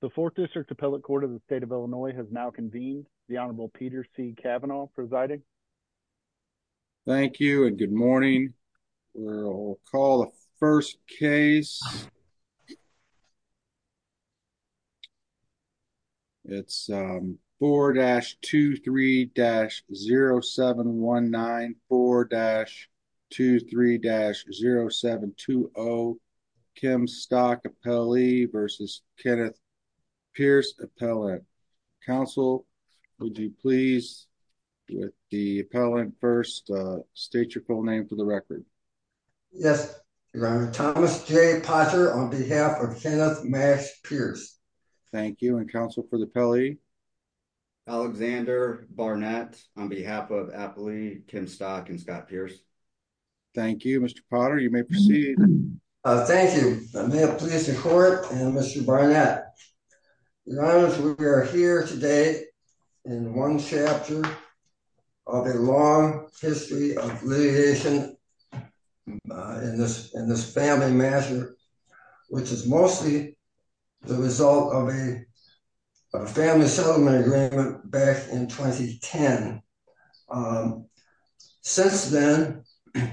The 4th District Appellate Court of the state of Illinois has now convened. The Honorable Peter C. Kavanaugh presiding. Thank you and good morning. We'll call the first case. It's 4-23-0719, 4-23-0720, Kim Stock Appellee versus Kenneth Pearce Appellant. Counsel, would you please, with the appellant first, state your full name for the record. Yes, Your Honor. Thomas J. Potter on behalf of Kenneth Max Pearce. Thank you and counsel for the appellee. Alexander Barnett on behalf of Appellee, Kim Stock and Scott Pearce. Thank you, Mr. Potter. You may proceed. Thank you. May it please the court and Mr. Barnett. Your Honor, we are here today in one chapter of a long history of litigation in this family matter, which is mostly the result of a family settlement agreement back in 2010. Since then, there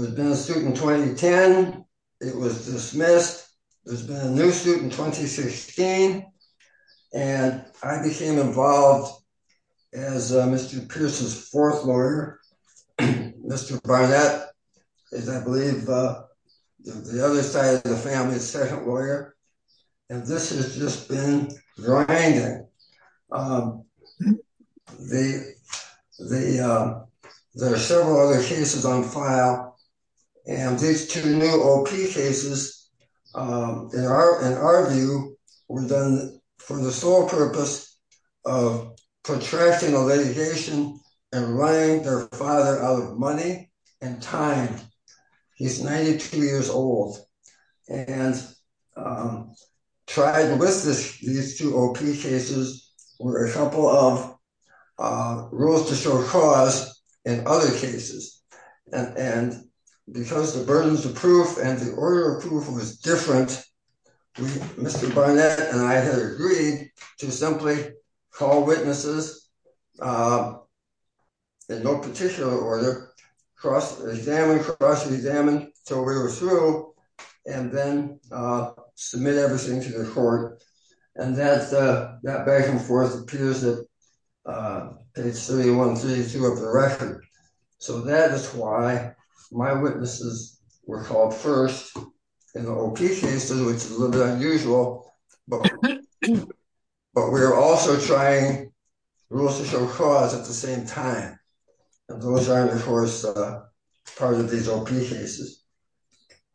has been a suit in 2010. It was dismissed. There's been a new suit in 2016. And I became involved as Mr. Pearce's fourth lawyer. Mr. Barnett is, I believe, the other side of the family's second lawyer. And this has just been grinding. And there are several other cases on file and these two new OP cases, in our view, were done for the sole purpose of protracting the litigation and running their father out of money and time. He's 92 years old. And tried with these two OP cases were a couple of rules to show cause in other cases. And because the burdens of proof and the order of proof was different, Mr. Barnett and I had agreed to simply call witnesses in no particular order, cross-examine, cross-examine till we were through, and then submit everything to the court. And that back and forth appears at page 31, 32 of the record. So that is why my witnesses were called first in the OP cases, which is a little bit unusual, but we're also trying rules to show cause at the same time. And those are, of course, part of these OP cases.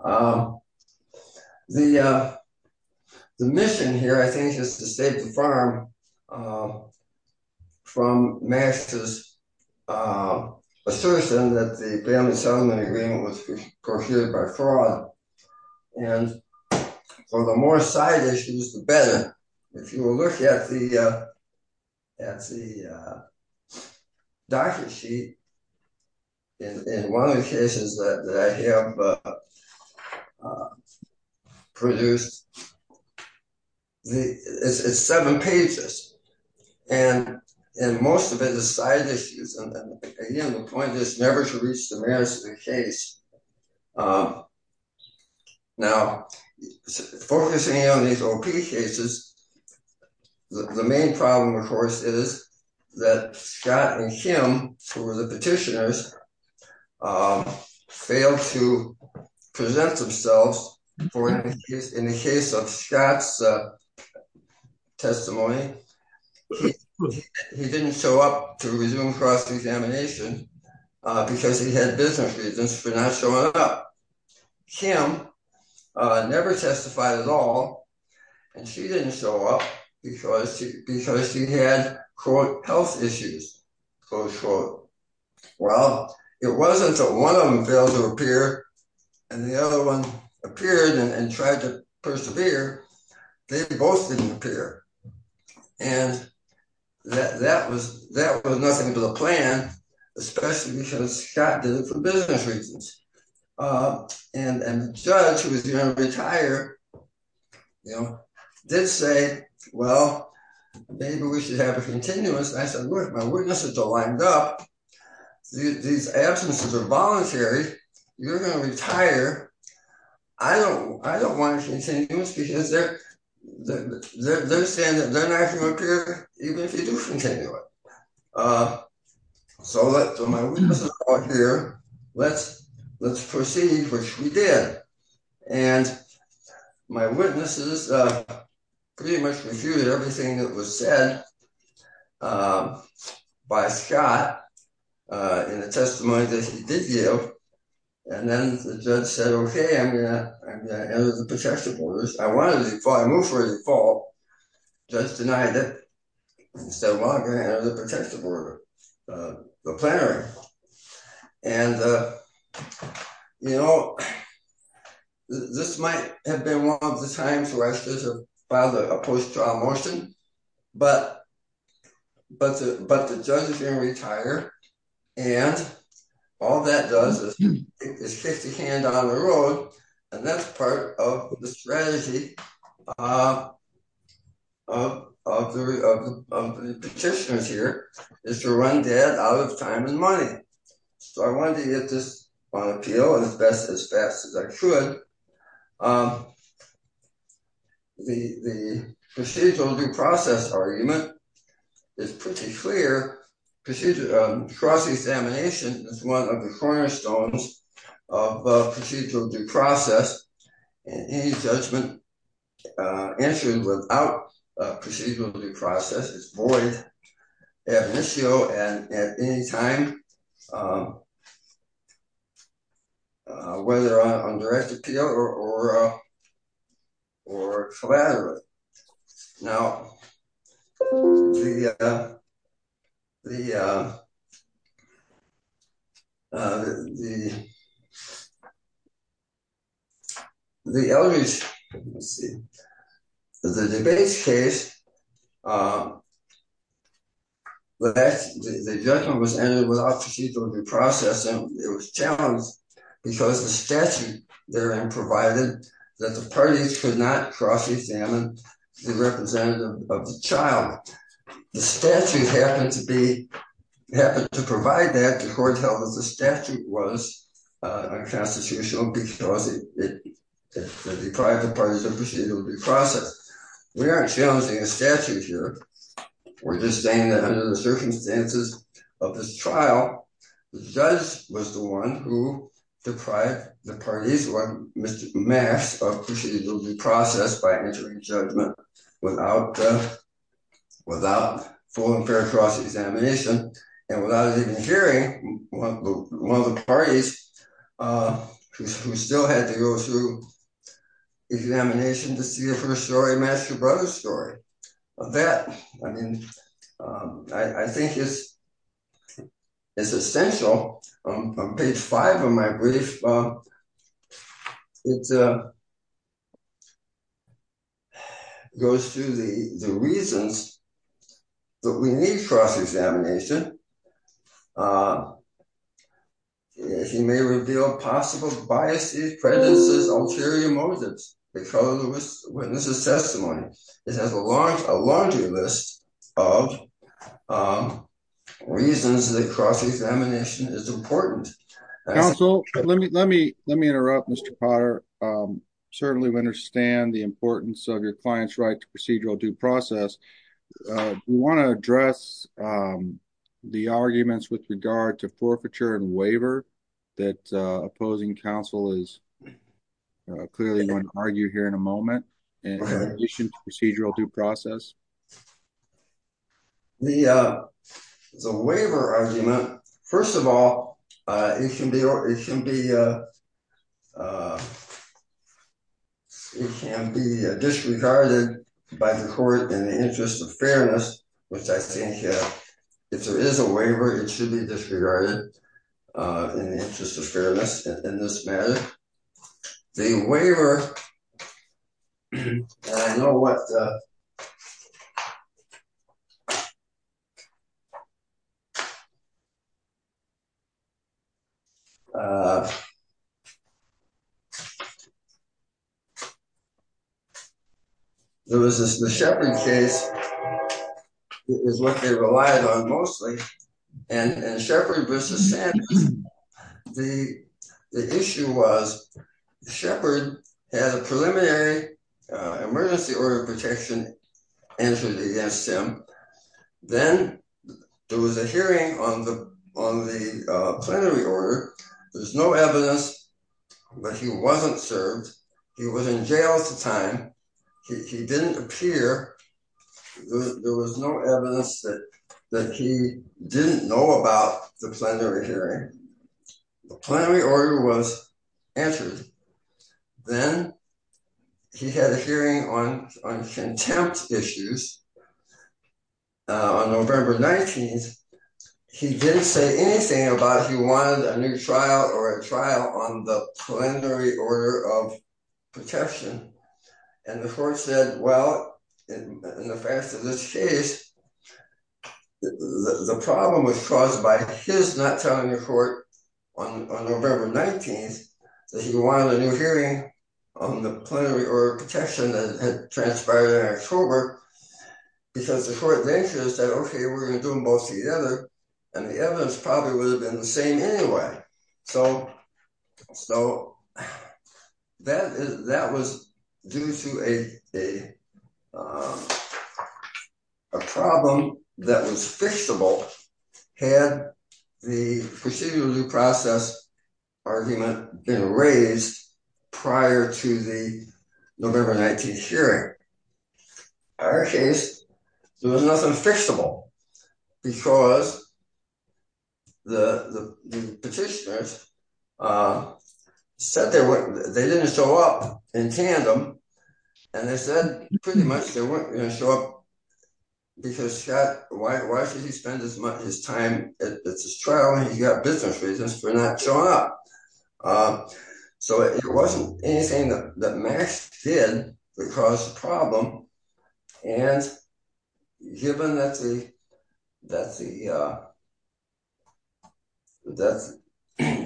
The mission here, I think, is to save the farm from Max's assertion that the family settlement agreement was procured by fraud. And for the more side issues, the better. If you will look at the doctor's sheet, in one of the cases that I have produced, it's seven pages. And most of it is side issues. And again, the point is never to reach the merits of the case Now, focusing on these OP cases, the main problem, of course, is that Scott and him who were the petitioners failed to present themselves in the case of Scott's testimony. He didn't show up to resume cross-examination because he had business reasons for not showing up. Kim never testified at all. And she didn't show up because she had, quote, health issues, close quote. Well, it wasn't that one of them failed to appear and the other one appeared and tried to persevere. They both didn't appear. And that was nothing to the plan, especially because Scott did it for business reasons. And the judge, who was going to retire, did say, well, maybe we should have a continuous. And I said, look, my witnesses are lined up. These absences are voluntary. You're going to retire. I don't want a continuous because they're saying that they're not going to appear even if you do continue it. So my witnesses are all here. Let's proceed, which we did. And my witnesses pretty much refuted everything that was said by Scott in the testimony that he did yield. And then the judge said, okay, I'm going to enter the protection orders. I moved for a default. Judge denied it and said, well, I'm going to enter the protection order, the plenary. And, you know, this might have been one of the times where I should have filed a post-trial motion, but the judge is going to retire. And all that does is kick the can down the road. And that's part of the strategy of the petitioners here, is to run dead out of time and money. So I wanted to get this on appeal as best as fast as I could. The procedural due process argument is pretty clear. Cross-examination is one of the cornerstones of procedural due process. And any judgment entered without a procedural due process is void ad initio and at any time, whether on direct appeal or collateral. Now, the, the elements, let's see. The debates case, the judgment was entered without procedural due process and it was challenged because the statute therein provided that the parties could not cross-examine the representative of the child. The statute happened to be, happened to provide that, the court held that the statute was unconstitutional because it deprived the parties of procedural due process. We aren't challenging a statute here. We're just saying that under the circumstances of this trial, the judge was the one who deprived the parties, or Mr. Max, of procedural due process by entering judgment without, without full and fair cross-examination. And without even hearing one of the parties who still had to go through examination to see a first story match your brother's story. Of that, I mean, I think it's essential. On page five of my brief, it goes through the reasons that we need cross-examination. He may reveal possible biases, prejudices, ulterior motives because of the witness's testimony. It has a laundry list of reasons that cross-examination is important. And also, let me interrupt, Mr. Potter. Certainly we understand the importance of your client's right to procedural due process. We want to address the arguments with regard to forfeiture and waiver that opposing counsel is clearly going to argue here in a moment, in addition to procedural due process. The waiver argument, first of all, it can be disregarded by the court in the interest of fairness, which I think if there is a waiver, it should be disregarded in the interest of fairness in this matter. The waiver, and I know what, it's a, there was this, the Shepard case is what they relied on mostly. And Shepard versus Sanders, the issue was Shepard had a preliminary emergency order of protection answered against him. Then there was a hearing on the plenary order. There's no evidence, but he wasn't served. He was in jail at the time. He didn't appear. There was no evidence that he didn't know about the plenary hearing. The plenary order was answered. Then he had a hearing on contempt issues. On November 19th, he didn't say anything about he wanted a new trial or a trial on the plenary order of protection. And the court said, well, in the fact of this case, the problem was caused by his not telling the court on November 19th, that he wanted a new hearing on the plenary order of protection that transpired in October. Because the court then said, okay, we're gonna do them both together. And the evidence probably would have been the same anyway. So that was due to a problem that was fixable had the procedure due process argument been raised prior to the November 19th hearing. In our case, there was nothing fixable because the petitioners said they didn't show up in tandem. And they said pretty much they weren't gonna show up because why should he spend his time, it's his trial and he's got business reasons for not showing up. So it wasn't anything that Max did that caused the problem. And given that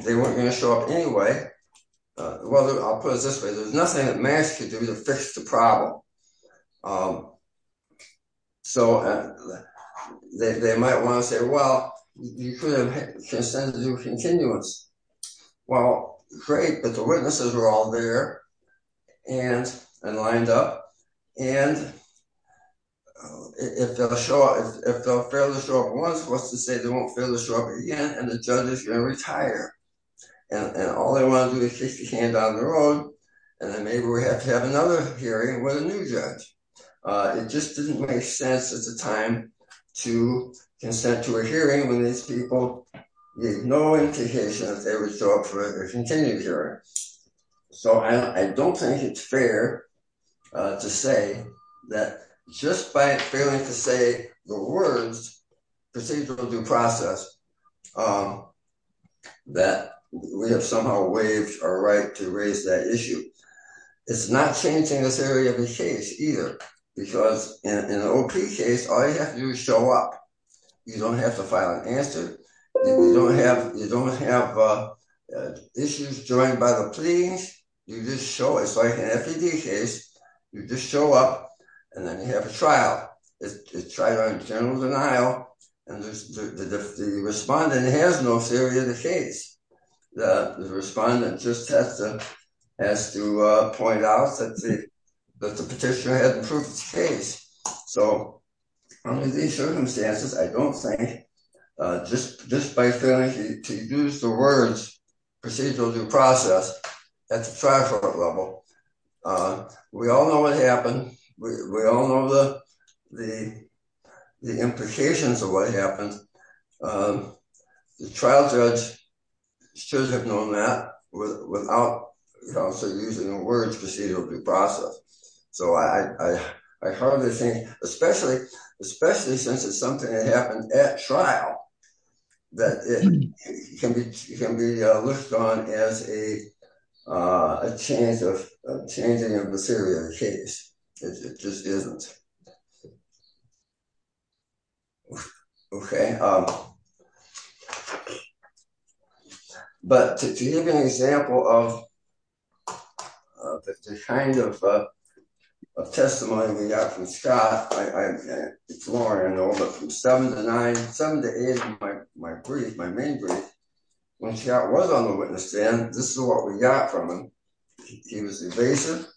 they weren't gonna show up anyway, well, I'll put it this way. There's nothing that Max could do to fix the problem. So they might wanna say, well, you could have consented to a continuance. Well, great, but the witnesses were all there and lined up. And if they'll fail to show up once, what's to say they won't fail to show up again and the judge is gonna retire. And all they wanna do is fix the case on their own. And then maybe we have to have another hearing with a new judge. It just didn't make sense at the time to consent to a hearing with these people with no indication that they would show up for a continued hearing. So I don't think it's fair to say that just by failing to say the words procedural due process that we have somehow waived our right to raise that issue. It's not changing the theory of the case either because in an OP case, all you have to do is show up. You don't have to file an answer. You don't have issues joined by the pleadings. You just show it. It's like an FED case. You just show up and then you have a trial. It's trial on general denial. And the respondent has no theory of the case. The respondent just has to point out that the petitioner hasn't proved his case. So under these circumstances, I don't think just by failing to use the words procedural due process at the trial court level. We all know what happened. We all know the implications of what happened. The trial judge should have known that without also using the words procedural due process. So I hardly think, especially since it's something that happened at trial, that it can be looked on as a changing of the theory of the case. It just isn't. It just isn't. Okay. But to give you an example of the kind of testimony we got from Scott, it's more I know, but from seven to nine, seven to eight in my brief, my main brief, when Scott was on the witness stand, this is what we got from him. He was evasive.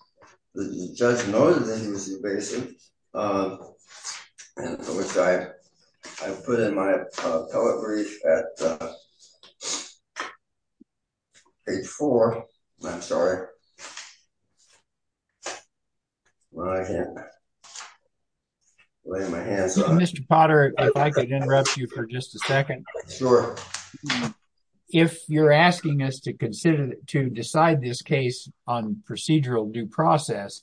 The judge noted that he was evasive. Which I put in my poet brief at page four, I'm sorry. Well, I can't lay my hands on it. Mr. Potter, if I could interrupt you for just a second. Sure. If you're asking us to consider, to decide this case on procedural due process,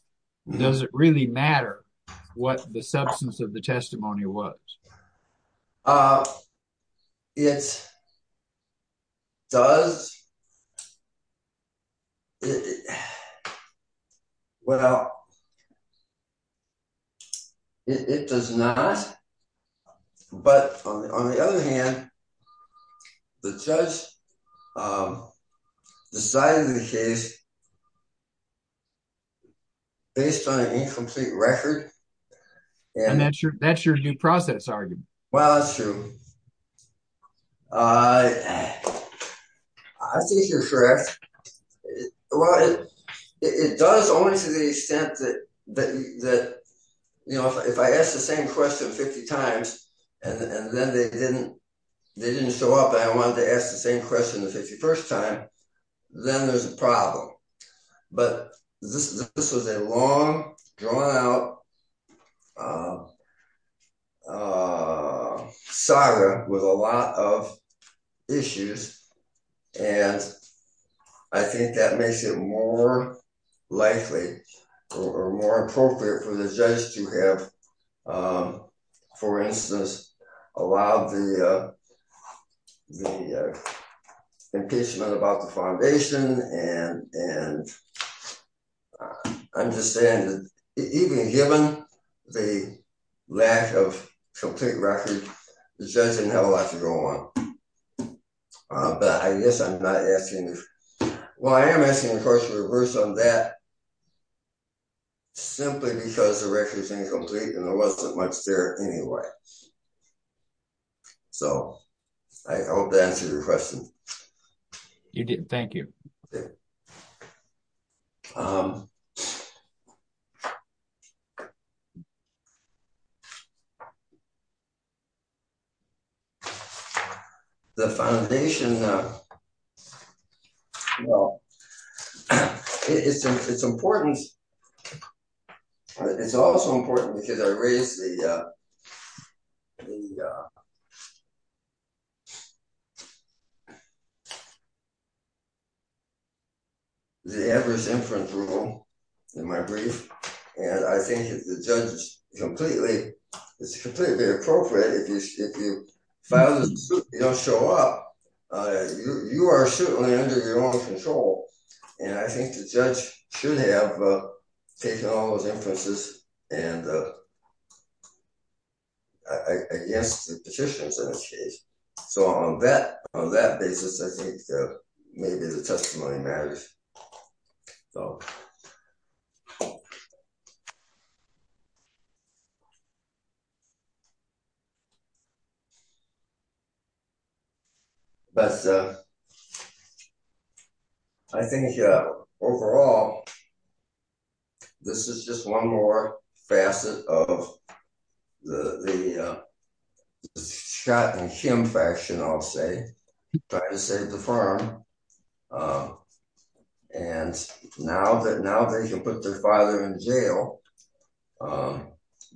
does it really matter what the substance of the testimony was? It does. Well, it does not, but on the other hand, the judge decided the case based on an incomplete record. And that's your due process argument. Well, that's true. I think you're correct. It does only to the extent that if I asked the same question 50 times and then they didn't show up and I wanted to ask the same question the 51st time, then there's a problem. But this was a long drawn out saga with a lot of issues. And I think that makes it more likely or more appropriate for the judge to have, for instance, allowed the impeachment about the foundation. And I'm just saying that even given the lack of complete record, the judge didn't have a lot to go on. But I guess I'm not asking, well, I am asking the question reversed on that simply because the record is incomplete and there wasn't much there anyway. So I hope that answers your question. You did, thank you. The foundation, and it's important, it's also important because I raised the Everest Inference Rule in my brief. And I think if the judge is completely, it's completely appropriate if you file this suit and you don't show up, you are certainly under your own control. And I think the judge should have taken all those inferences against the petitions in this case. So on that basis, I think maybe the testimony matters. But I think, yeah, overall, this is just one more facet of the shot and shim fashion, I'll say, trying to save the firm. And now they can put their father in jail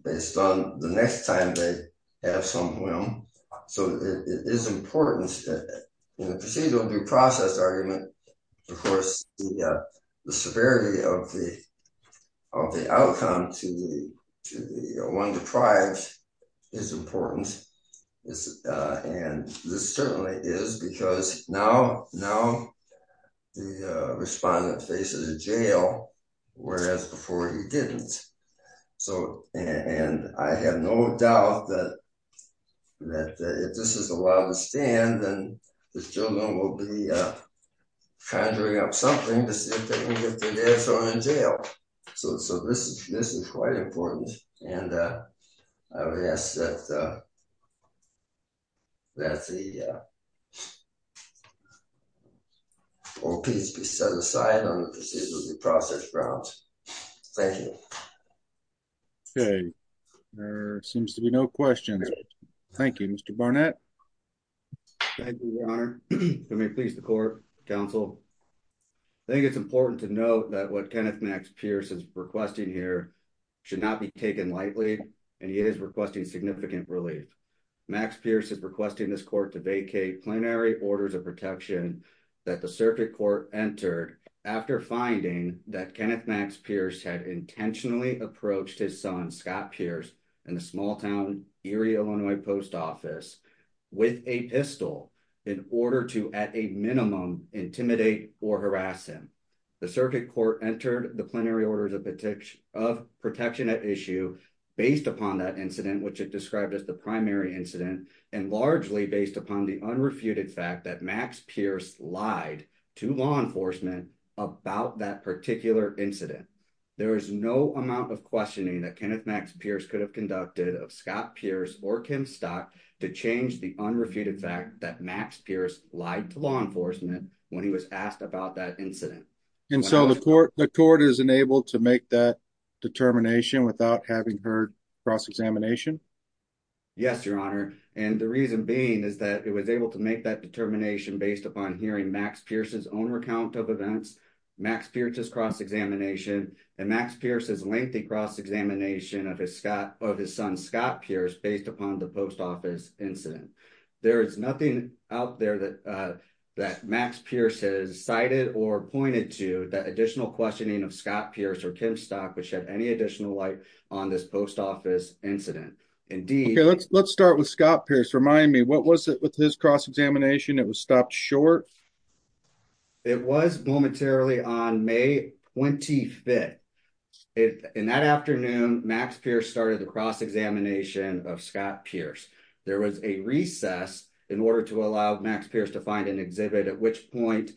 based on the next time they have some whim. So it is important in a procedural due process argument, of course, the severity of the outcome to the one deprived is important. And this certainly is because now, now the respondent faces a jail, whereas before he didn't. So, and I have no doubt that if this is allowed to stand, then the children will be conjuring up something to see if they can get their dad thrown in jail. So this is quite important. And I would ask that the old peace be set aside on the procedural due process grounds. Thank you. Okay, there seems to be no questions. Thank you, Mr. Barnett. Thank you, your honor. Let me please the court counsel. I think it's important to note that what Kenneth Max Pierce is requesting here should not be taken lightly. And he is requesting significant relief. Max Pierce is requesting this court to vacate plenary orders of protection that the circuit court entered after finding that Kenneth Max Pierce had intentionally approached his son, Scott Pierce and the small town Erie, Illinois post office with a pistol in order to at a minimum intimidate or harass him. The circuit court entered the plenary orders of protection at issue based upon that incident, which it described as the primary incident and largely based upon the unrefuted fact that Max Pierce lied to law enforcement about that particular incident. There is no amount of questioning that Kenneth Max Pierce could have conducted of Scott Pierce or Kim Stock to change the unrefuted fact that Max Pierce lied to law enforcement when he was asked about that incident. And so the court is enabled to make that determination without having heard cross-examination? Yes, your honor. And the reason being is that it was able to make that determination based upon hearing Max Pierce's own recount of events, Max Pierce's cross-examination and Max Pierce's lengthy cross-examination of his son, Scott Pierce, based upon the post office incident. There is nothing out there that Max Pierce has cited or pointed to that additional questioning of Scott Pierce or Kim Stock, which had any additional light on this post office incident. Indeed. Let's start with Scott Pierce. Remind me, what was it with his cross-examination? It was stopped short? It was momentarily on May 25th. In that afternoon, Max Pierce started the cross-examination of Scott Pierce. There was a recess in order to allow Max Pierce to find an exhibit, at which point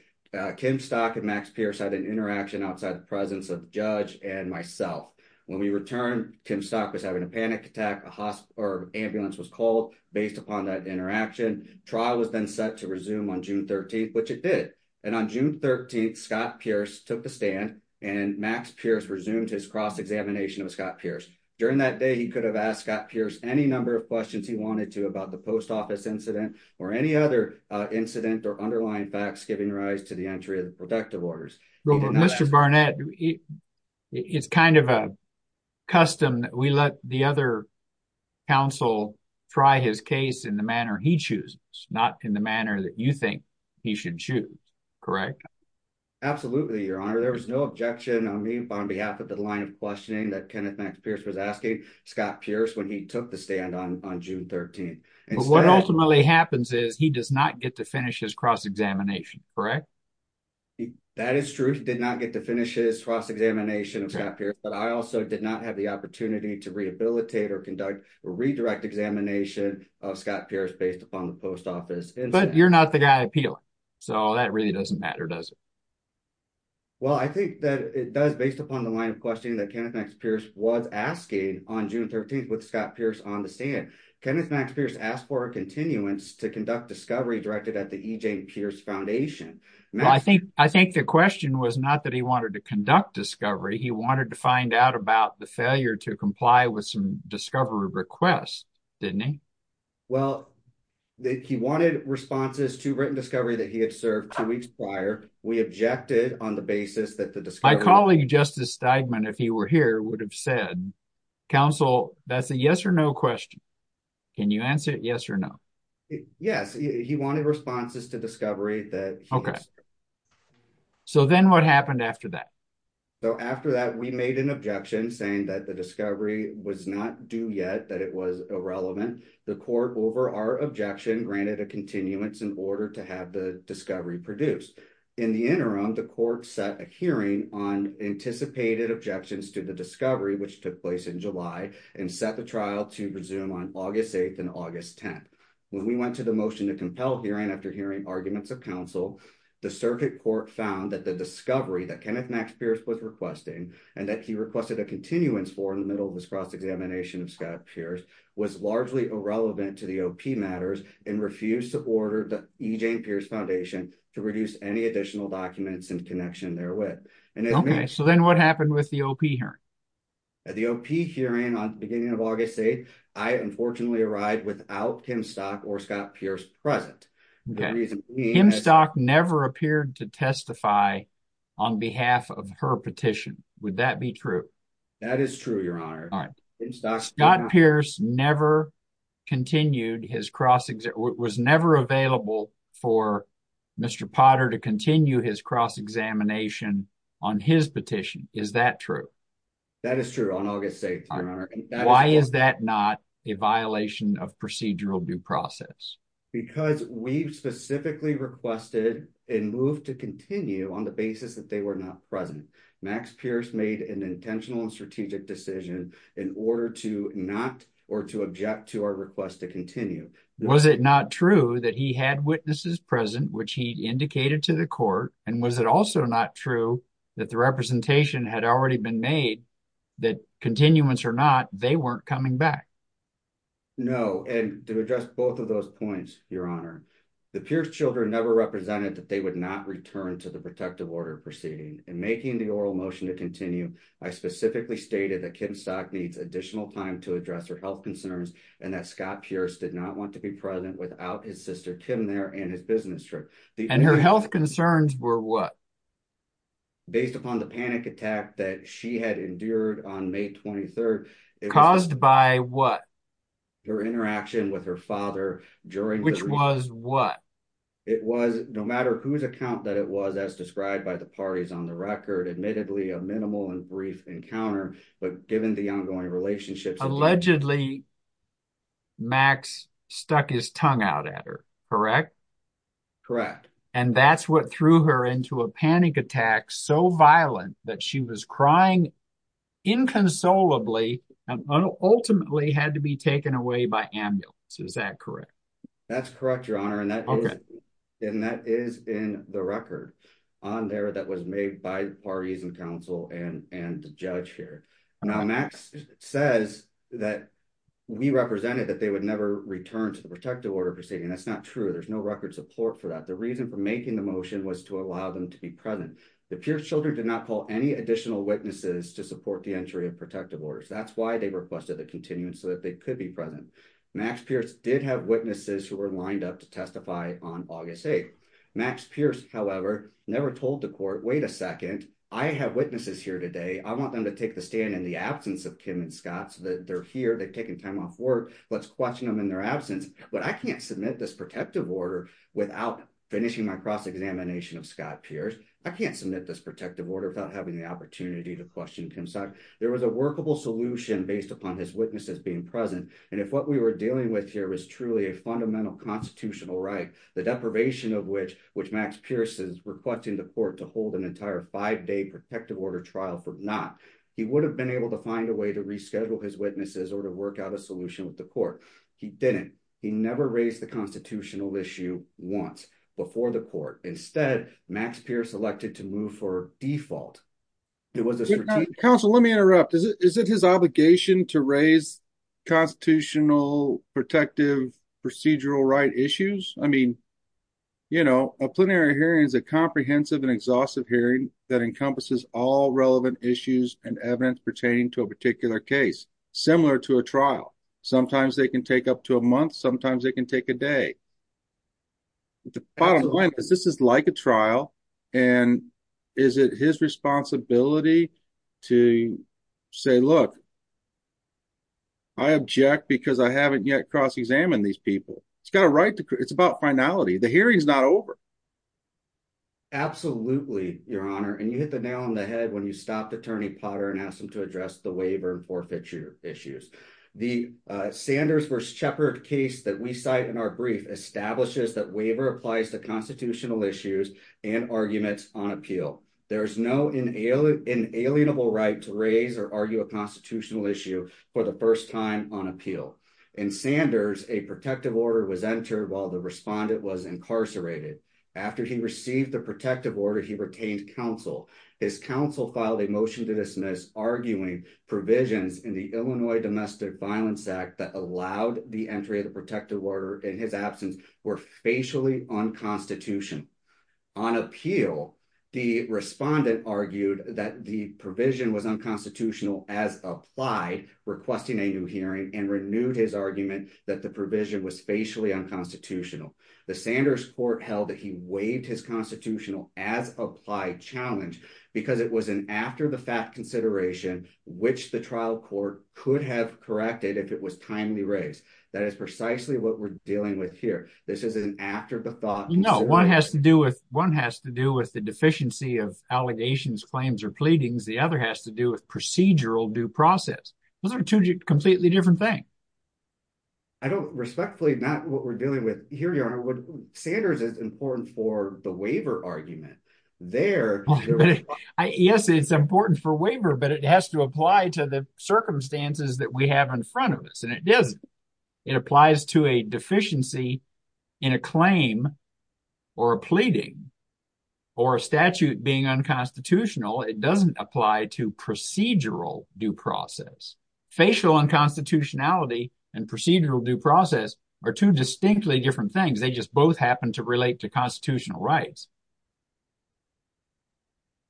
Kim Stock and Max Pierce had an interaction outside the presence of judge and myself. When we returned, Kim Stock was having a panic attack, an ambulance was called based upon that interaction. Trial was then set to resume on June 13th, which it did. And on June 13th, Scott Pierce took the stand and Max Pierce resumed his cross-examination of Scott Pierce. During that day, he could have asked Scott Pierce any number of questions he wanted to about the post office incident or any other incident or underlying facts giving rise to the entry of the protective orders. Mr. Barnett, it's kind of a custom that we let the other counsel try his case in the manner he chooses, not in the manner that you think he should choose, correct? Absolutely, your honor. There was no objection on me on behalf of the line of questioning that Kenneth Max Pierce was asking Scott Pierce when he took the stand on June 13th. But what ultimately happens is he does not get to finish his cross-examination, correct? That is true. He did not get to finish his cross-examination of Scott Pierce but I also did not have the opportunity to rehabilitate or conduct a redirect examination of Scott Pierce based upon the post office incident. But you're not the guy appealing. So that really doesn't matter, does it? Well, I think that it does based upon the line of questioning that Kenneth Max Pierce was asking on June 13th with Scott Pierce on the stand. Kenneth Max Pierce asked for a continuance to conduct discovery directed at the E.J. Pierce Foundation. Well, I think the question was not that he wanted to conduct discovery. He wanted to find out about the failure to comply with some discovery requests, didn't he? Well, he wanted responses to written discovery that he had served two weeks prior. We objected on the basis that the discovery- My colleague, Justice Steigman, if he were here would have said, counsel, that's a yes or no question. Can you answer it yes or no? Yes, he wanted responses to discovery that- Okay. So then what happened after that? So after that, we made an objection saying that the discovery was not due yet, that it was irrelevant. The court, over our objection, granted a continuance in order to have the discovery produced. In the interim, the court set a hearing on anticipated objections to the discovery, which took place in July, and set the trial to resume on August 8th and August 10th. When we went to the motion to compel hearing after hearing arguments of counsel, the circuit court found that the discovery that Kenneth Max Pierce was requesting, and that he requested a continuance for in the middle of his cross-examination of Scott Pierce, was largely irrelevant to the OP matters, and refused to order the E. Jane Pierce Foundation to produce any additional documents in connection therewith. And that means- Okay, so then what happened with the OP hearing? At the OP hearing on the beginning of August 8th, I unfortunately arrived without Kim Stock or Scott Pierce present. The reason being- Kim Stock never appeared to testify on behalf of her petition. Would that be true? That is true, Your Honor. All right. Scott Pierce never continued his cross-examination, was never available for Mr. Potter to continue his cross-examination on his petition. Is that true? That is true on August 8th, Your Honor. Why is that not a violation of procedural due process? Because we've specifically requested and moved to continue on the basis that they were not present. Max Pierce made an intentional and strategic decision in order to not or to object to our request to continue. Was it not true that he had witnesses present, which he indicated to the court? And was it also not true that the representation had already been made that continuance or not, they weren't coming back? No. And to address both of those points, Your Honor, the Pierce children never represented that they would not return to the protective order proceeding. In making the oral motion to continue, I specifically stated that Kim Stock needs additional time to address her health concerns and that Scott Pierce did not want to be present without his sister Kim there and his business trip. And her health concerns were what? Based upon the panic attack that she had endured on May 23rd. Caused by what? Her interaction with her father during- Which was what? It was no matter whose account that it was as described by the parties on the record, admittedly a minimal and brief encounter, but given the ongoing relationships- Allegedly, Max stuck his tongue out at her, correct? Correct. And that's what threw her into a panic attack, so violent that she was crying inconsolably and ultimately had to be taken away by ambulance. Is that correct? That's correct, Your Honor. And that is in the record on there that was made by the parties and counsel and the judge here. Now, Max says that we represented that they would never return to the protective order proceeding. That's not true. There's no record support for that. The reason for making the motion was to allow them to be present. The Pierce children did not call any additional witnesses to support the entry of protective orders. That's why they requested the continuance so that they could be present. Max Pierce did have witnesses who were lined up to testify on August 8th. Max Pierce, however, never told the court, wait a second, I have witnesses here today. I want them to take the stand in the absence of Kim and Scott so that they're here. They've taken time off work. Let's question them in their absence. But I can't submit this protective order without finishing my cross-examination of Scott Pierce. I can't submit this protective order without having the opportunity to question Kim Scott. There was a workable solution based upon his witnesses being present. And if what we were dealing with here was truly a fundamental constitutional right, the deprivation of which Max Pierce is requesting the court to hold an entire five-day protective order trial for not, he would have been able to find a way to reschedule his witnesses or to work out a solution with the court. He didn't. He never raised the constitutional issue once before the court. Instead, Max Pierce elected to move for default. It was a strategic- Counsel, let me interrupt. Is it his obligation to raise constitutional, protective, procedural right issues? I mean, you know, a plenary hearing is a comprehensive and exhaustive hearing that encompasses all relevant issues and evidence pertaining to a particular case, similar to a trial. Sometimes they can take up to a month. Sometimes they can take a day. The bottom line is this is like a trial. And is it his responsibility to say, look, I object because I haven't yet cross-examined these people. It's got a right to, it's about finality. The hearing's not over. Absolutely, Your Honor. And you hit the nail on the head when you stopped Attorney Potter and asked him to address the waiver and forfeiture issues. The Sanders v. Shepard case that we cite in our brief establishes that waiver applies to constitutional issues and arguments on appeal. There's no inalienable right to raise or argue a constitutional issue for the first time on appeal. In Sanders, a protective order was entered while the respondent was incarcerated. After he received the protective order, he retained counsel. His counsel filed a motion to dismiss, arguing provisions in the Illinois Domestic Violence Act that allowed the entry of the protective order in his absence were facially unconstitutional. On appeal, the respondent argued that the provision was unconstitutional as applied, requesting a new hearing and renewed his argument that the provision was facially unconstitutional. The Sanders court held that he waived his constitutional as applied challenge because it was an after-the-fact consideration which the trial court could have corrected if it was timely raised. That is precisely what we're dealing with here. This is an after-the-thought. No, one has to do with the deficiency of allegations, claims, or pleadings. The other has to do with procedural due process. Those are two completely different things. I don't, respectfully, Matt, what we're dealing with, here you are, Sanders is important for the waiver argument. There- Yes, it's important for waiver, but it has to apply to the circumstances that we have in front of us. And it doesn't. It applies to a deficiency in a claim or a pleading or a statute being unconstitutional. It doesn't apply to procedural due process. Facial unconstitutionality and procedural due process are two distinctly different things. They just both happen to relate to constitutional rights.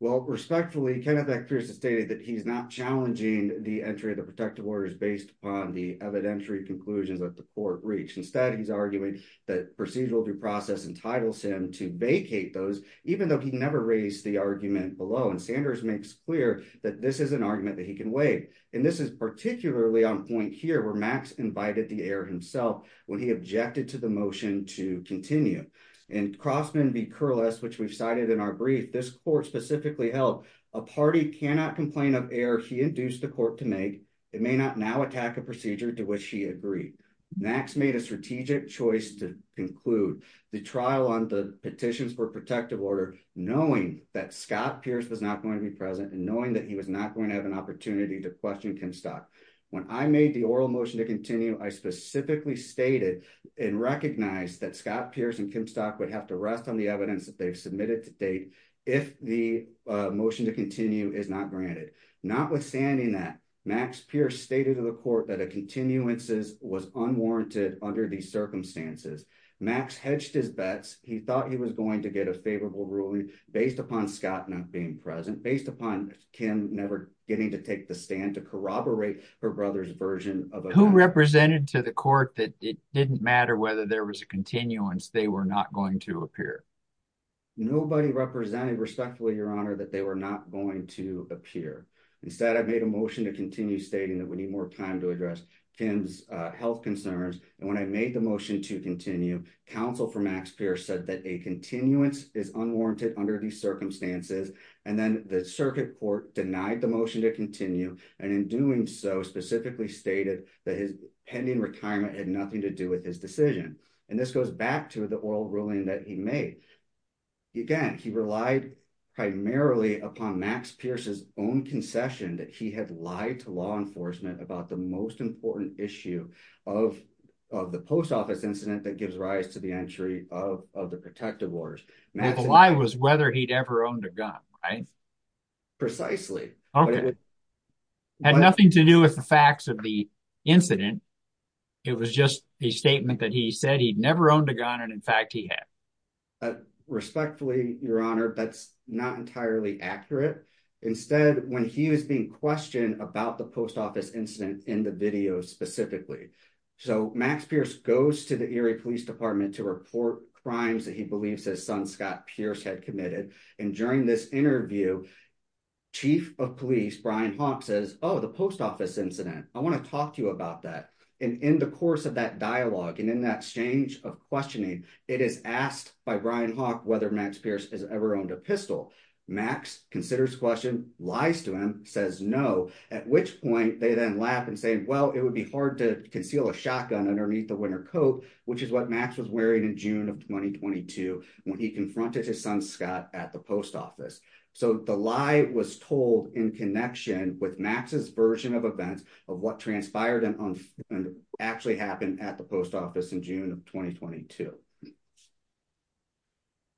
Well, respectfully, Kenneth F. Pierce has stated that he's not challenging the entry of the protective orders based upon the evidentiary conclusions that the court reached. Instead, he's arguing that procedural due process entitles him to vacate those, even though he never raised the argument below. And Sanders makes clear that this is an argument that he can waive. And this is particularly on point here where Max invited the error himself when he objected to the motion to continue. In Crossman v. Kurless, which we've cited in our brief, this court specifically held, a party cannot complain of error he induced the court to make. It may not now attack a procedure to which he agreed. Max made a strategic choice to conclude the trial on the petitions for protective order, knowing that Scott Pierce was not going to be present and knowing that he was not going to have an opportunity to question Kim Stock. When I made the oral motion to continue, I specifically stated and recognized that Scott Pierce and Kim Stock would have to rest on the evidence that they've submitted to date if the motion to continue is not granted. Not withstanding that, Max Pierce stated to the court that a continuances was unwarranted under these circumstances. Max hedged his bets. He thought he was going to get a favorable ruling based upon Scott not being present, based upon Kim never getting to take the stand to corroborate her brother's version of- Who represented to the court that it didn't matter whether there was a continuance, they were not going to appear? Nobody represented respectfully, your honor, that they were not going to appear. Instead, I've made a motion to continue stating that we need more time to address Kim's health concerns. And when I made the motion to continue, counsel for Max Pierce said that a continuance is unwarranted under these circumstances. And then the circuit court denied the motion to continue. And in doing so, specifically stated that his pending retirement had nothing to do with his decision. And this goes back to the oral ruling that he made. Again, he relied primarily upon Max Pierce's own concession that he had lied to law enforcement about the most important issue of the post office incident that gives rise to the entry of the protective orders. And the lie was whether he'd ever owned a gun, right? Precisely. Okay. Had nothing to do with the facts of the incident. It was just a statement that he said he'd never owned a gun and in fact he had. Respectfully, your honor, that's not entirely accurate. Instead, when he was being questioned about the post office incident in the video specifically. So Max Pierce goes to the Erie Police Department to report crimes that he believes his son, Scott Pierce had committed. And during this interview, chief of police, Brian Hawk says, oh, the post office incident. I wanna talk to you about that. And in the course of that dialogue and in that exchange of questioning, it is asked by Brian Hawk whether Max Pierce has ever owned a pistol. Max considers the question, lies to him, says no, at which point they then laugh and say, well, it would be hard to conceal a shotgun underneath the winter coat, which is what Max was wearing in June of 2022 when he confronted his son, Scott, at the post office. So the lie was told in connection with Max's version of events of what transpired and actually happened at the post office in June of 2022.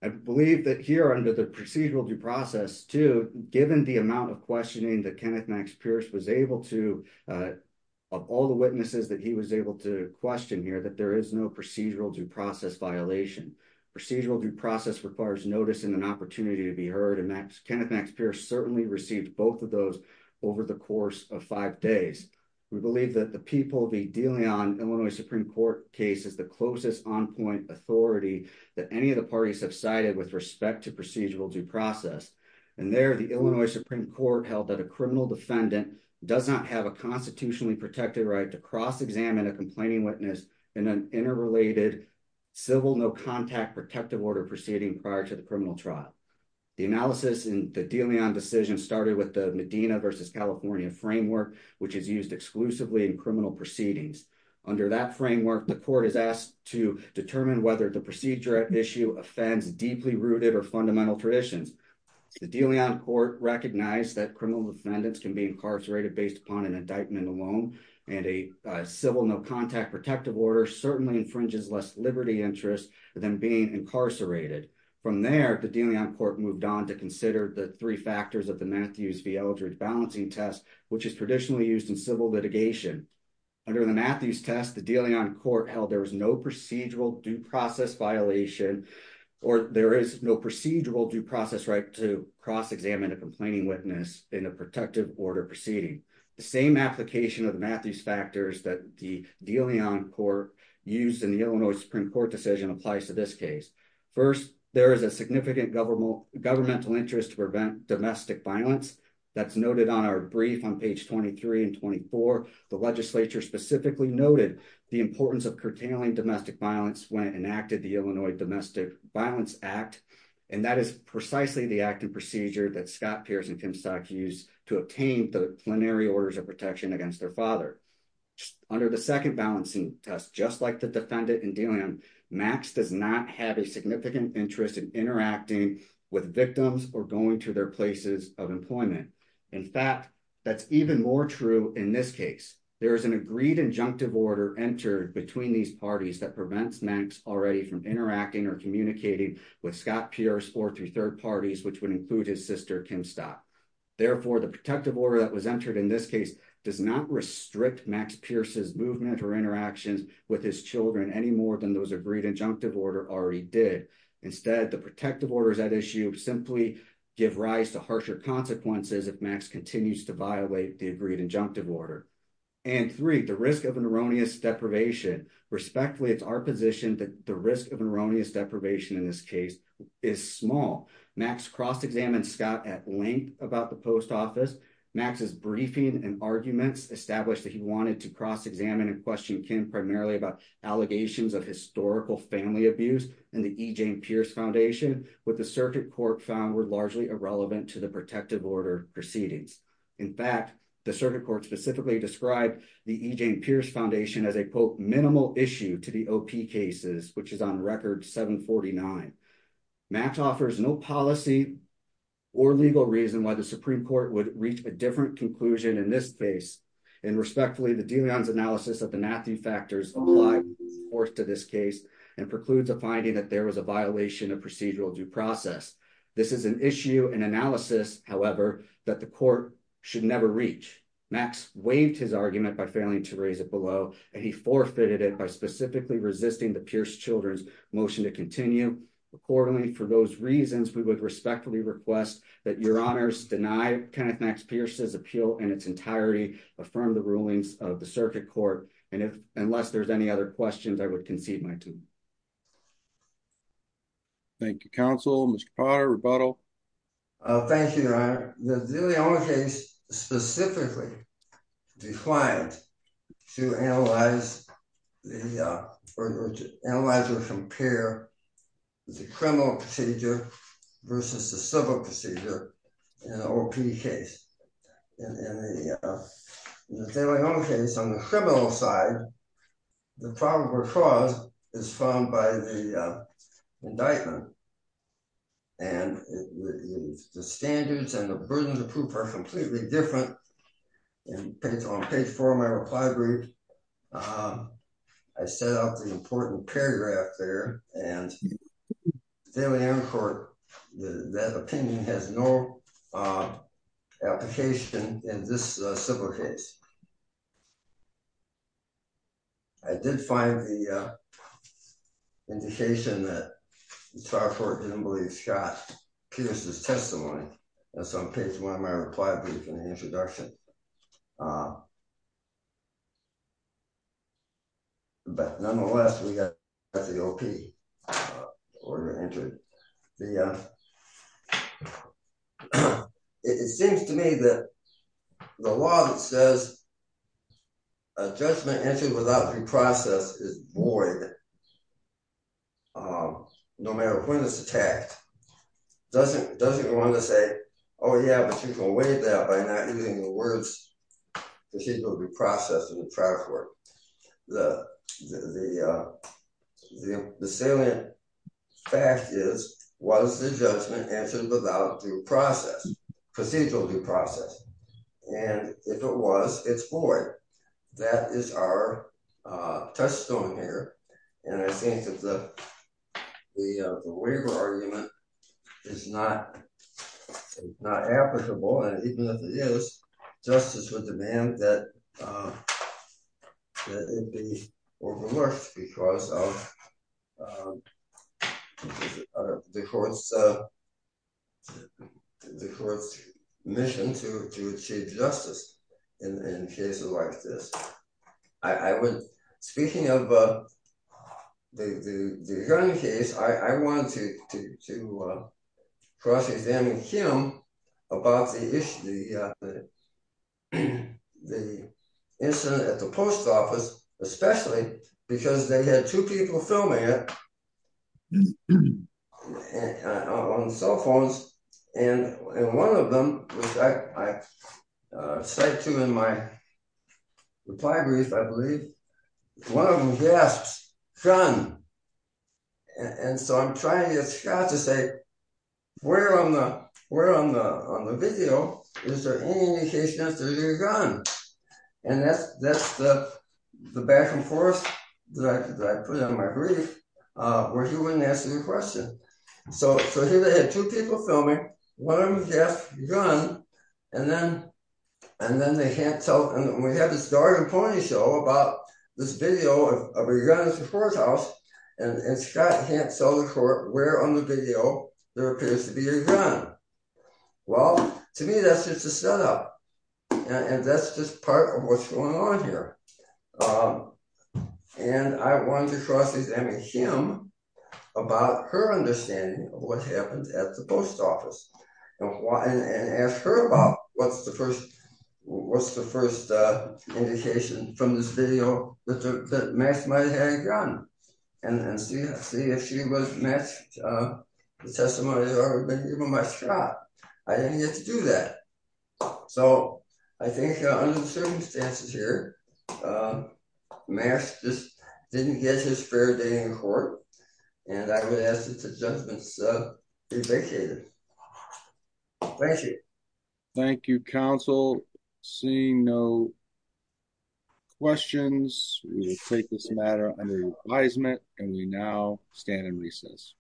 I believe that here under the procedural due process too, given the amount of questioning that Kenneth Max Pierce was able to, of all the witnesses that he was able to question here, that there is no procedural due process violation. Procedural due process requires notice and an opportunity to be heard. And Kenneth Max Pierce certainly received both of those over the course of five days. We believe that the people be dealing on Illinois Supreme Court cases, the closest on-point authority that any of the parties have cited with respect to procedural due process. And there, the Illinois Supreme Court held that a criminal defendant does not have a constitutionally protected right to cross-examine a complaining witness in an interrelated civil no-contact protective order proceeding prior to the criminal trial. The analysis in the De Leon decision started with the Medina versus California framework, which is used exclusively in criminal proceedings. Under that framework, the court is asked to determine whether the procedure at issue offends deeply rooted or fundamental traditions. The De Leon court recognized that criminal defendants can be incarcerated based upon an indictment alone, and a civil no-contact protective order certainly infringes less liberty interest than being incarcerated. From there, the De Leon court moved on to consider the three factors of the Matthews v. Eldred balancing test, which is traditionally used in civil litigation. Under the Matthews test, the De Leon court held there was no procedural due process violation, or there is no procedural due process right to cross-examine a complaining witness in a protective order proceeding. The same application of the Matthews factors that the De Leon court used in the Illinois Supreme Court decision applies to this case. First, there is a significant governmental interest to prevent domestic violence. That's noted on our brief on page 23 and 24. The legislature specifically noted the importance of curtailing domestic violence when it enacted the Illinois Domestic Violence Act, and that is precisely the acting procedure that Scott Pierce and Tim Stock used to obtain the plenary orders of protection against their father. Under the second balancing test, just like the defendant in De Leon, Max does not have a significant interest in interacting with victims or going to their places of employment. In fact, that's even more true in this case. There is an agreed injunctive order entered between these parties that prevents Max already from interacting or communicating with Scott Pierce or through third parties, which would include his sister, Kim Stock. Therefore, the protective order that was entered in this case does not restrict Max Pierce's movement or interactions with his children any more than those agreed injunctive order already did. Instead, the protective orders at issue simply give rise to harsher consequences if Max continues to violate the agreed injunctive order. And three, the risk of erroneous deprivation. Respectfully, it's our position that the risk of erroneous deprivation in this case is small. Max cross-examined Scott at length about the post office. Max's briefing and arguments established that he wanted to cross-examine and question Kim primarily about allegations of historical family abuse and the E.J. Pierce Foundation, what the circuit court found were largely irrelevant to the protective order proceedings. In fact, the circuit court specifically described the E.J. Pierce Foundation as a, quote, minimal issue to the OP cases, which is on record 749. Max offers no policy or legal reason why the Supreme Court would reach a different conclusion in this case. And respectfully, the de Leon's analysis of the Matthew factors apply to this case and precludes a finding that there was a violation of procedural due process. This is an issue and analysis, however, that the court should never reach. Max waived his argument by failing to raise it below, and he forfeited it by specifically resisting the Pierce children's motion to continue. Accordingly, for those reasons, we would respectfully request that your honors deny Kenneth Max Pierce's appeal in its entirety, affirm the rulings of the circuit court, and unless there's any other questions, I would concede my two. Thank you, counsel. Mr. Potter, rebuttal. Thank you, your honor. The de Leon case specifically required to analyze the, or to analyze or compare the criminal procedure versus the civil procedure in an OP case. In the de Leon case, on the criminal side, the probable cause is found by the indictment and the standards and the burden of proof are completely different. And on page four of my reply brief, I set up the important paragraph there, and the de Leon court, that opinion has no application in this civil case. I did find the indication that the trial court didn't believe Scott Pierce's testimony. That's on page one of my reply brief in the introduction. But nonetheless, we got the OP order entered. It seems to me that the law that says a judgment entered without due process is void no matter when it's attacked, doesn't want to say, oh yeah, but you can waive that by not using the words procedural due process in the trial court. The salient fact is, was the judgment entered without due process, procedural due process? And if it was, it's void. That is our touchstone here. And I think that the waiver argument is not applicable and even if it is, justice would demand that it be overlooked because of the court's mission to achieve justice in cases like this. Speaking of the hearing case, I wanted to cross examine him about the incident at the post office, especially because they had two people filming it on cell phones. And one of them, which I cite to in my reply brief, I believe, one of them, he asks, John. And so I'm trying to get Scott to say, where on the video is there any indication that you're gone? And that's the back and forth that I put on my brief where he wouldn't answer the question. So here they had two people filming, one of them asked, you're gone? And then they can't tell, and we have this dog and pony show about this video of a gun in the courthouse and Scott can't tell the court where on the video there appears to be a gun. Well, to me, that's just a setup and that's just part of what's going on here. And I wanted to cross examine him about her understanding of what happened at the post office and ask her about what's the first indication from this video that Max might have had a gun and see if she was matched the testimony that I would have been given by Scott. I didn't get to do that. So I think under the circumstances here, Max just didn't get his fair day in court and I would ask that the judgements be vacated. Thank you. Thank you, counsel. Seeing no questions, we will take this matter under advisement and we now stand in recess.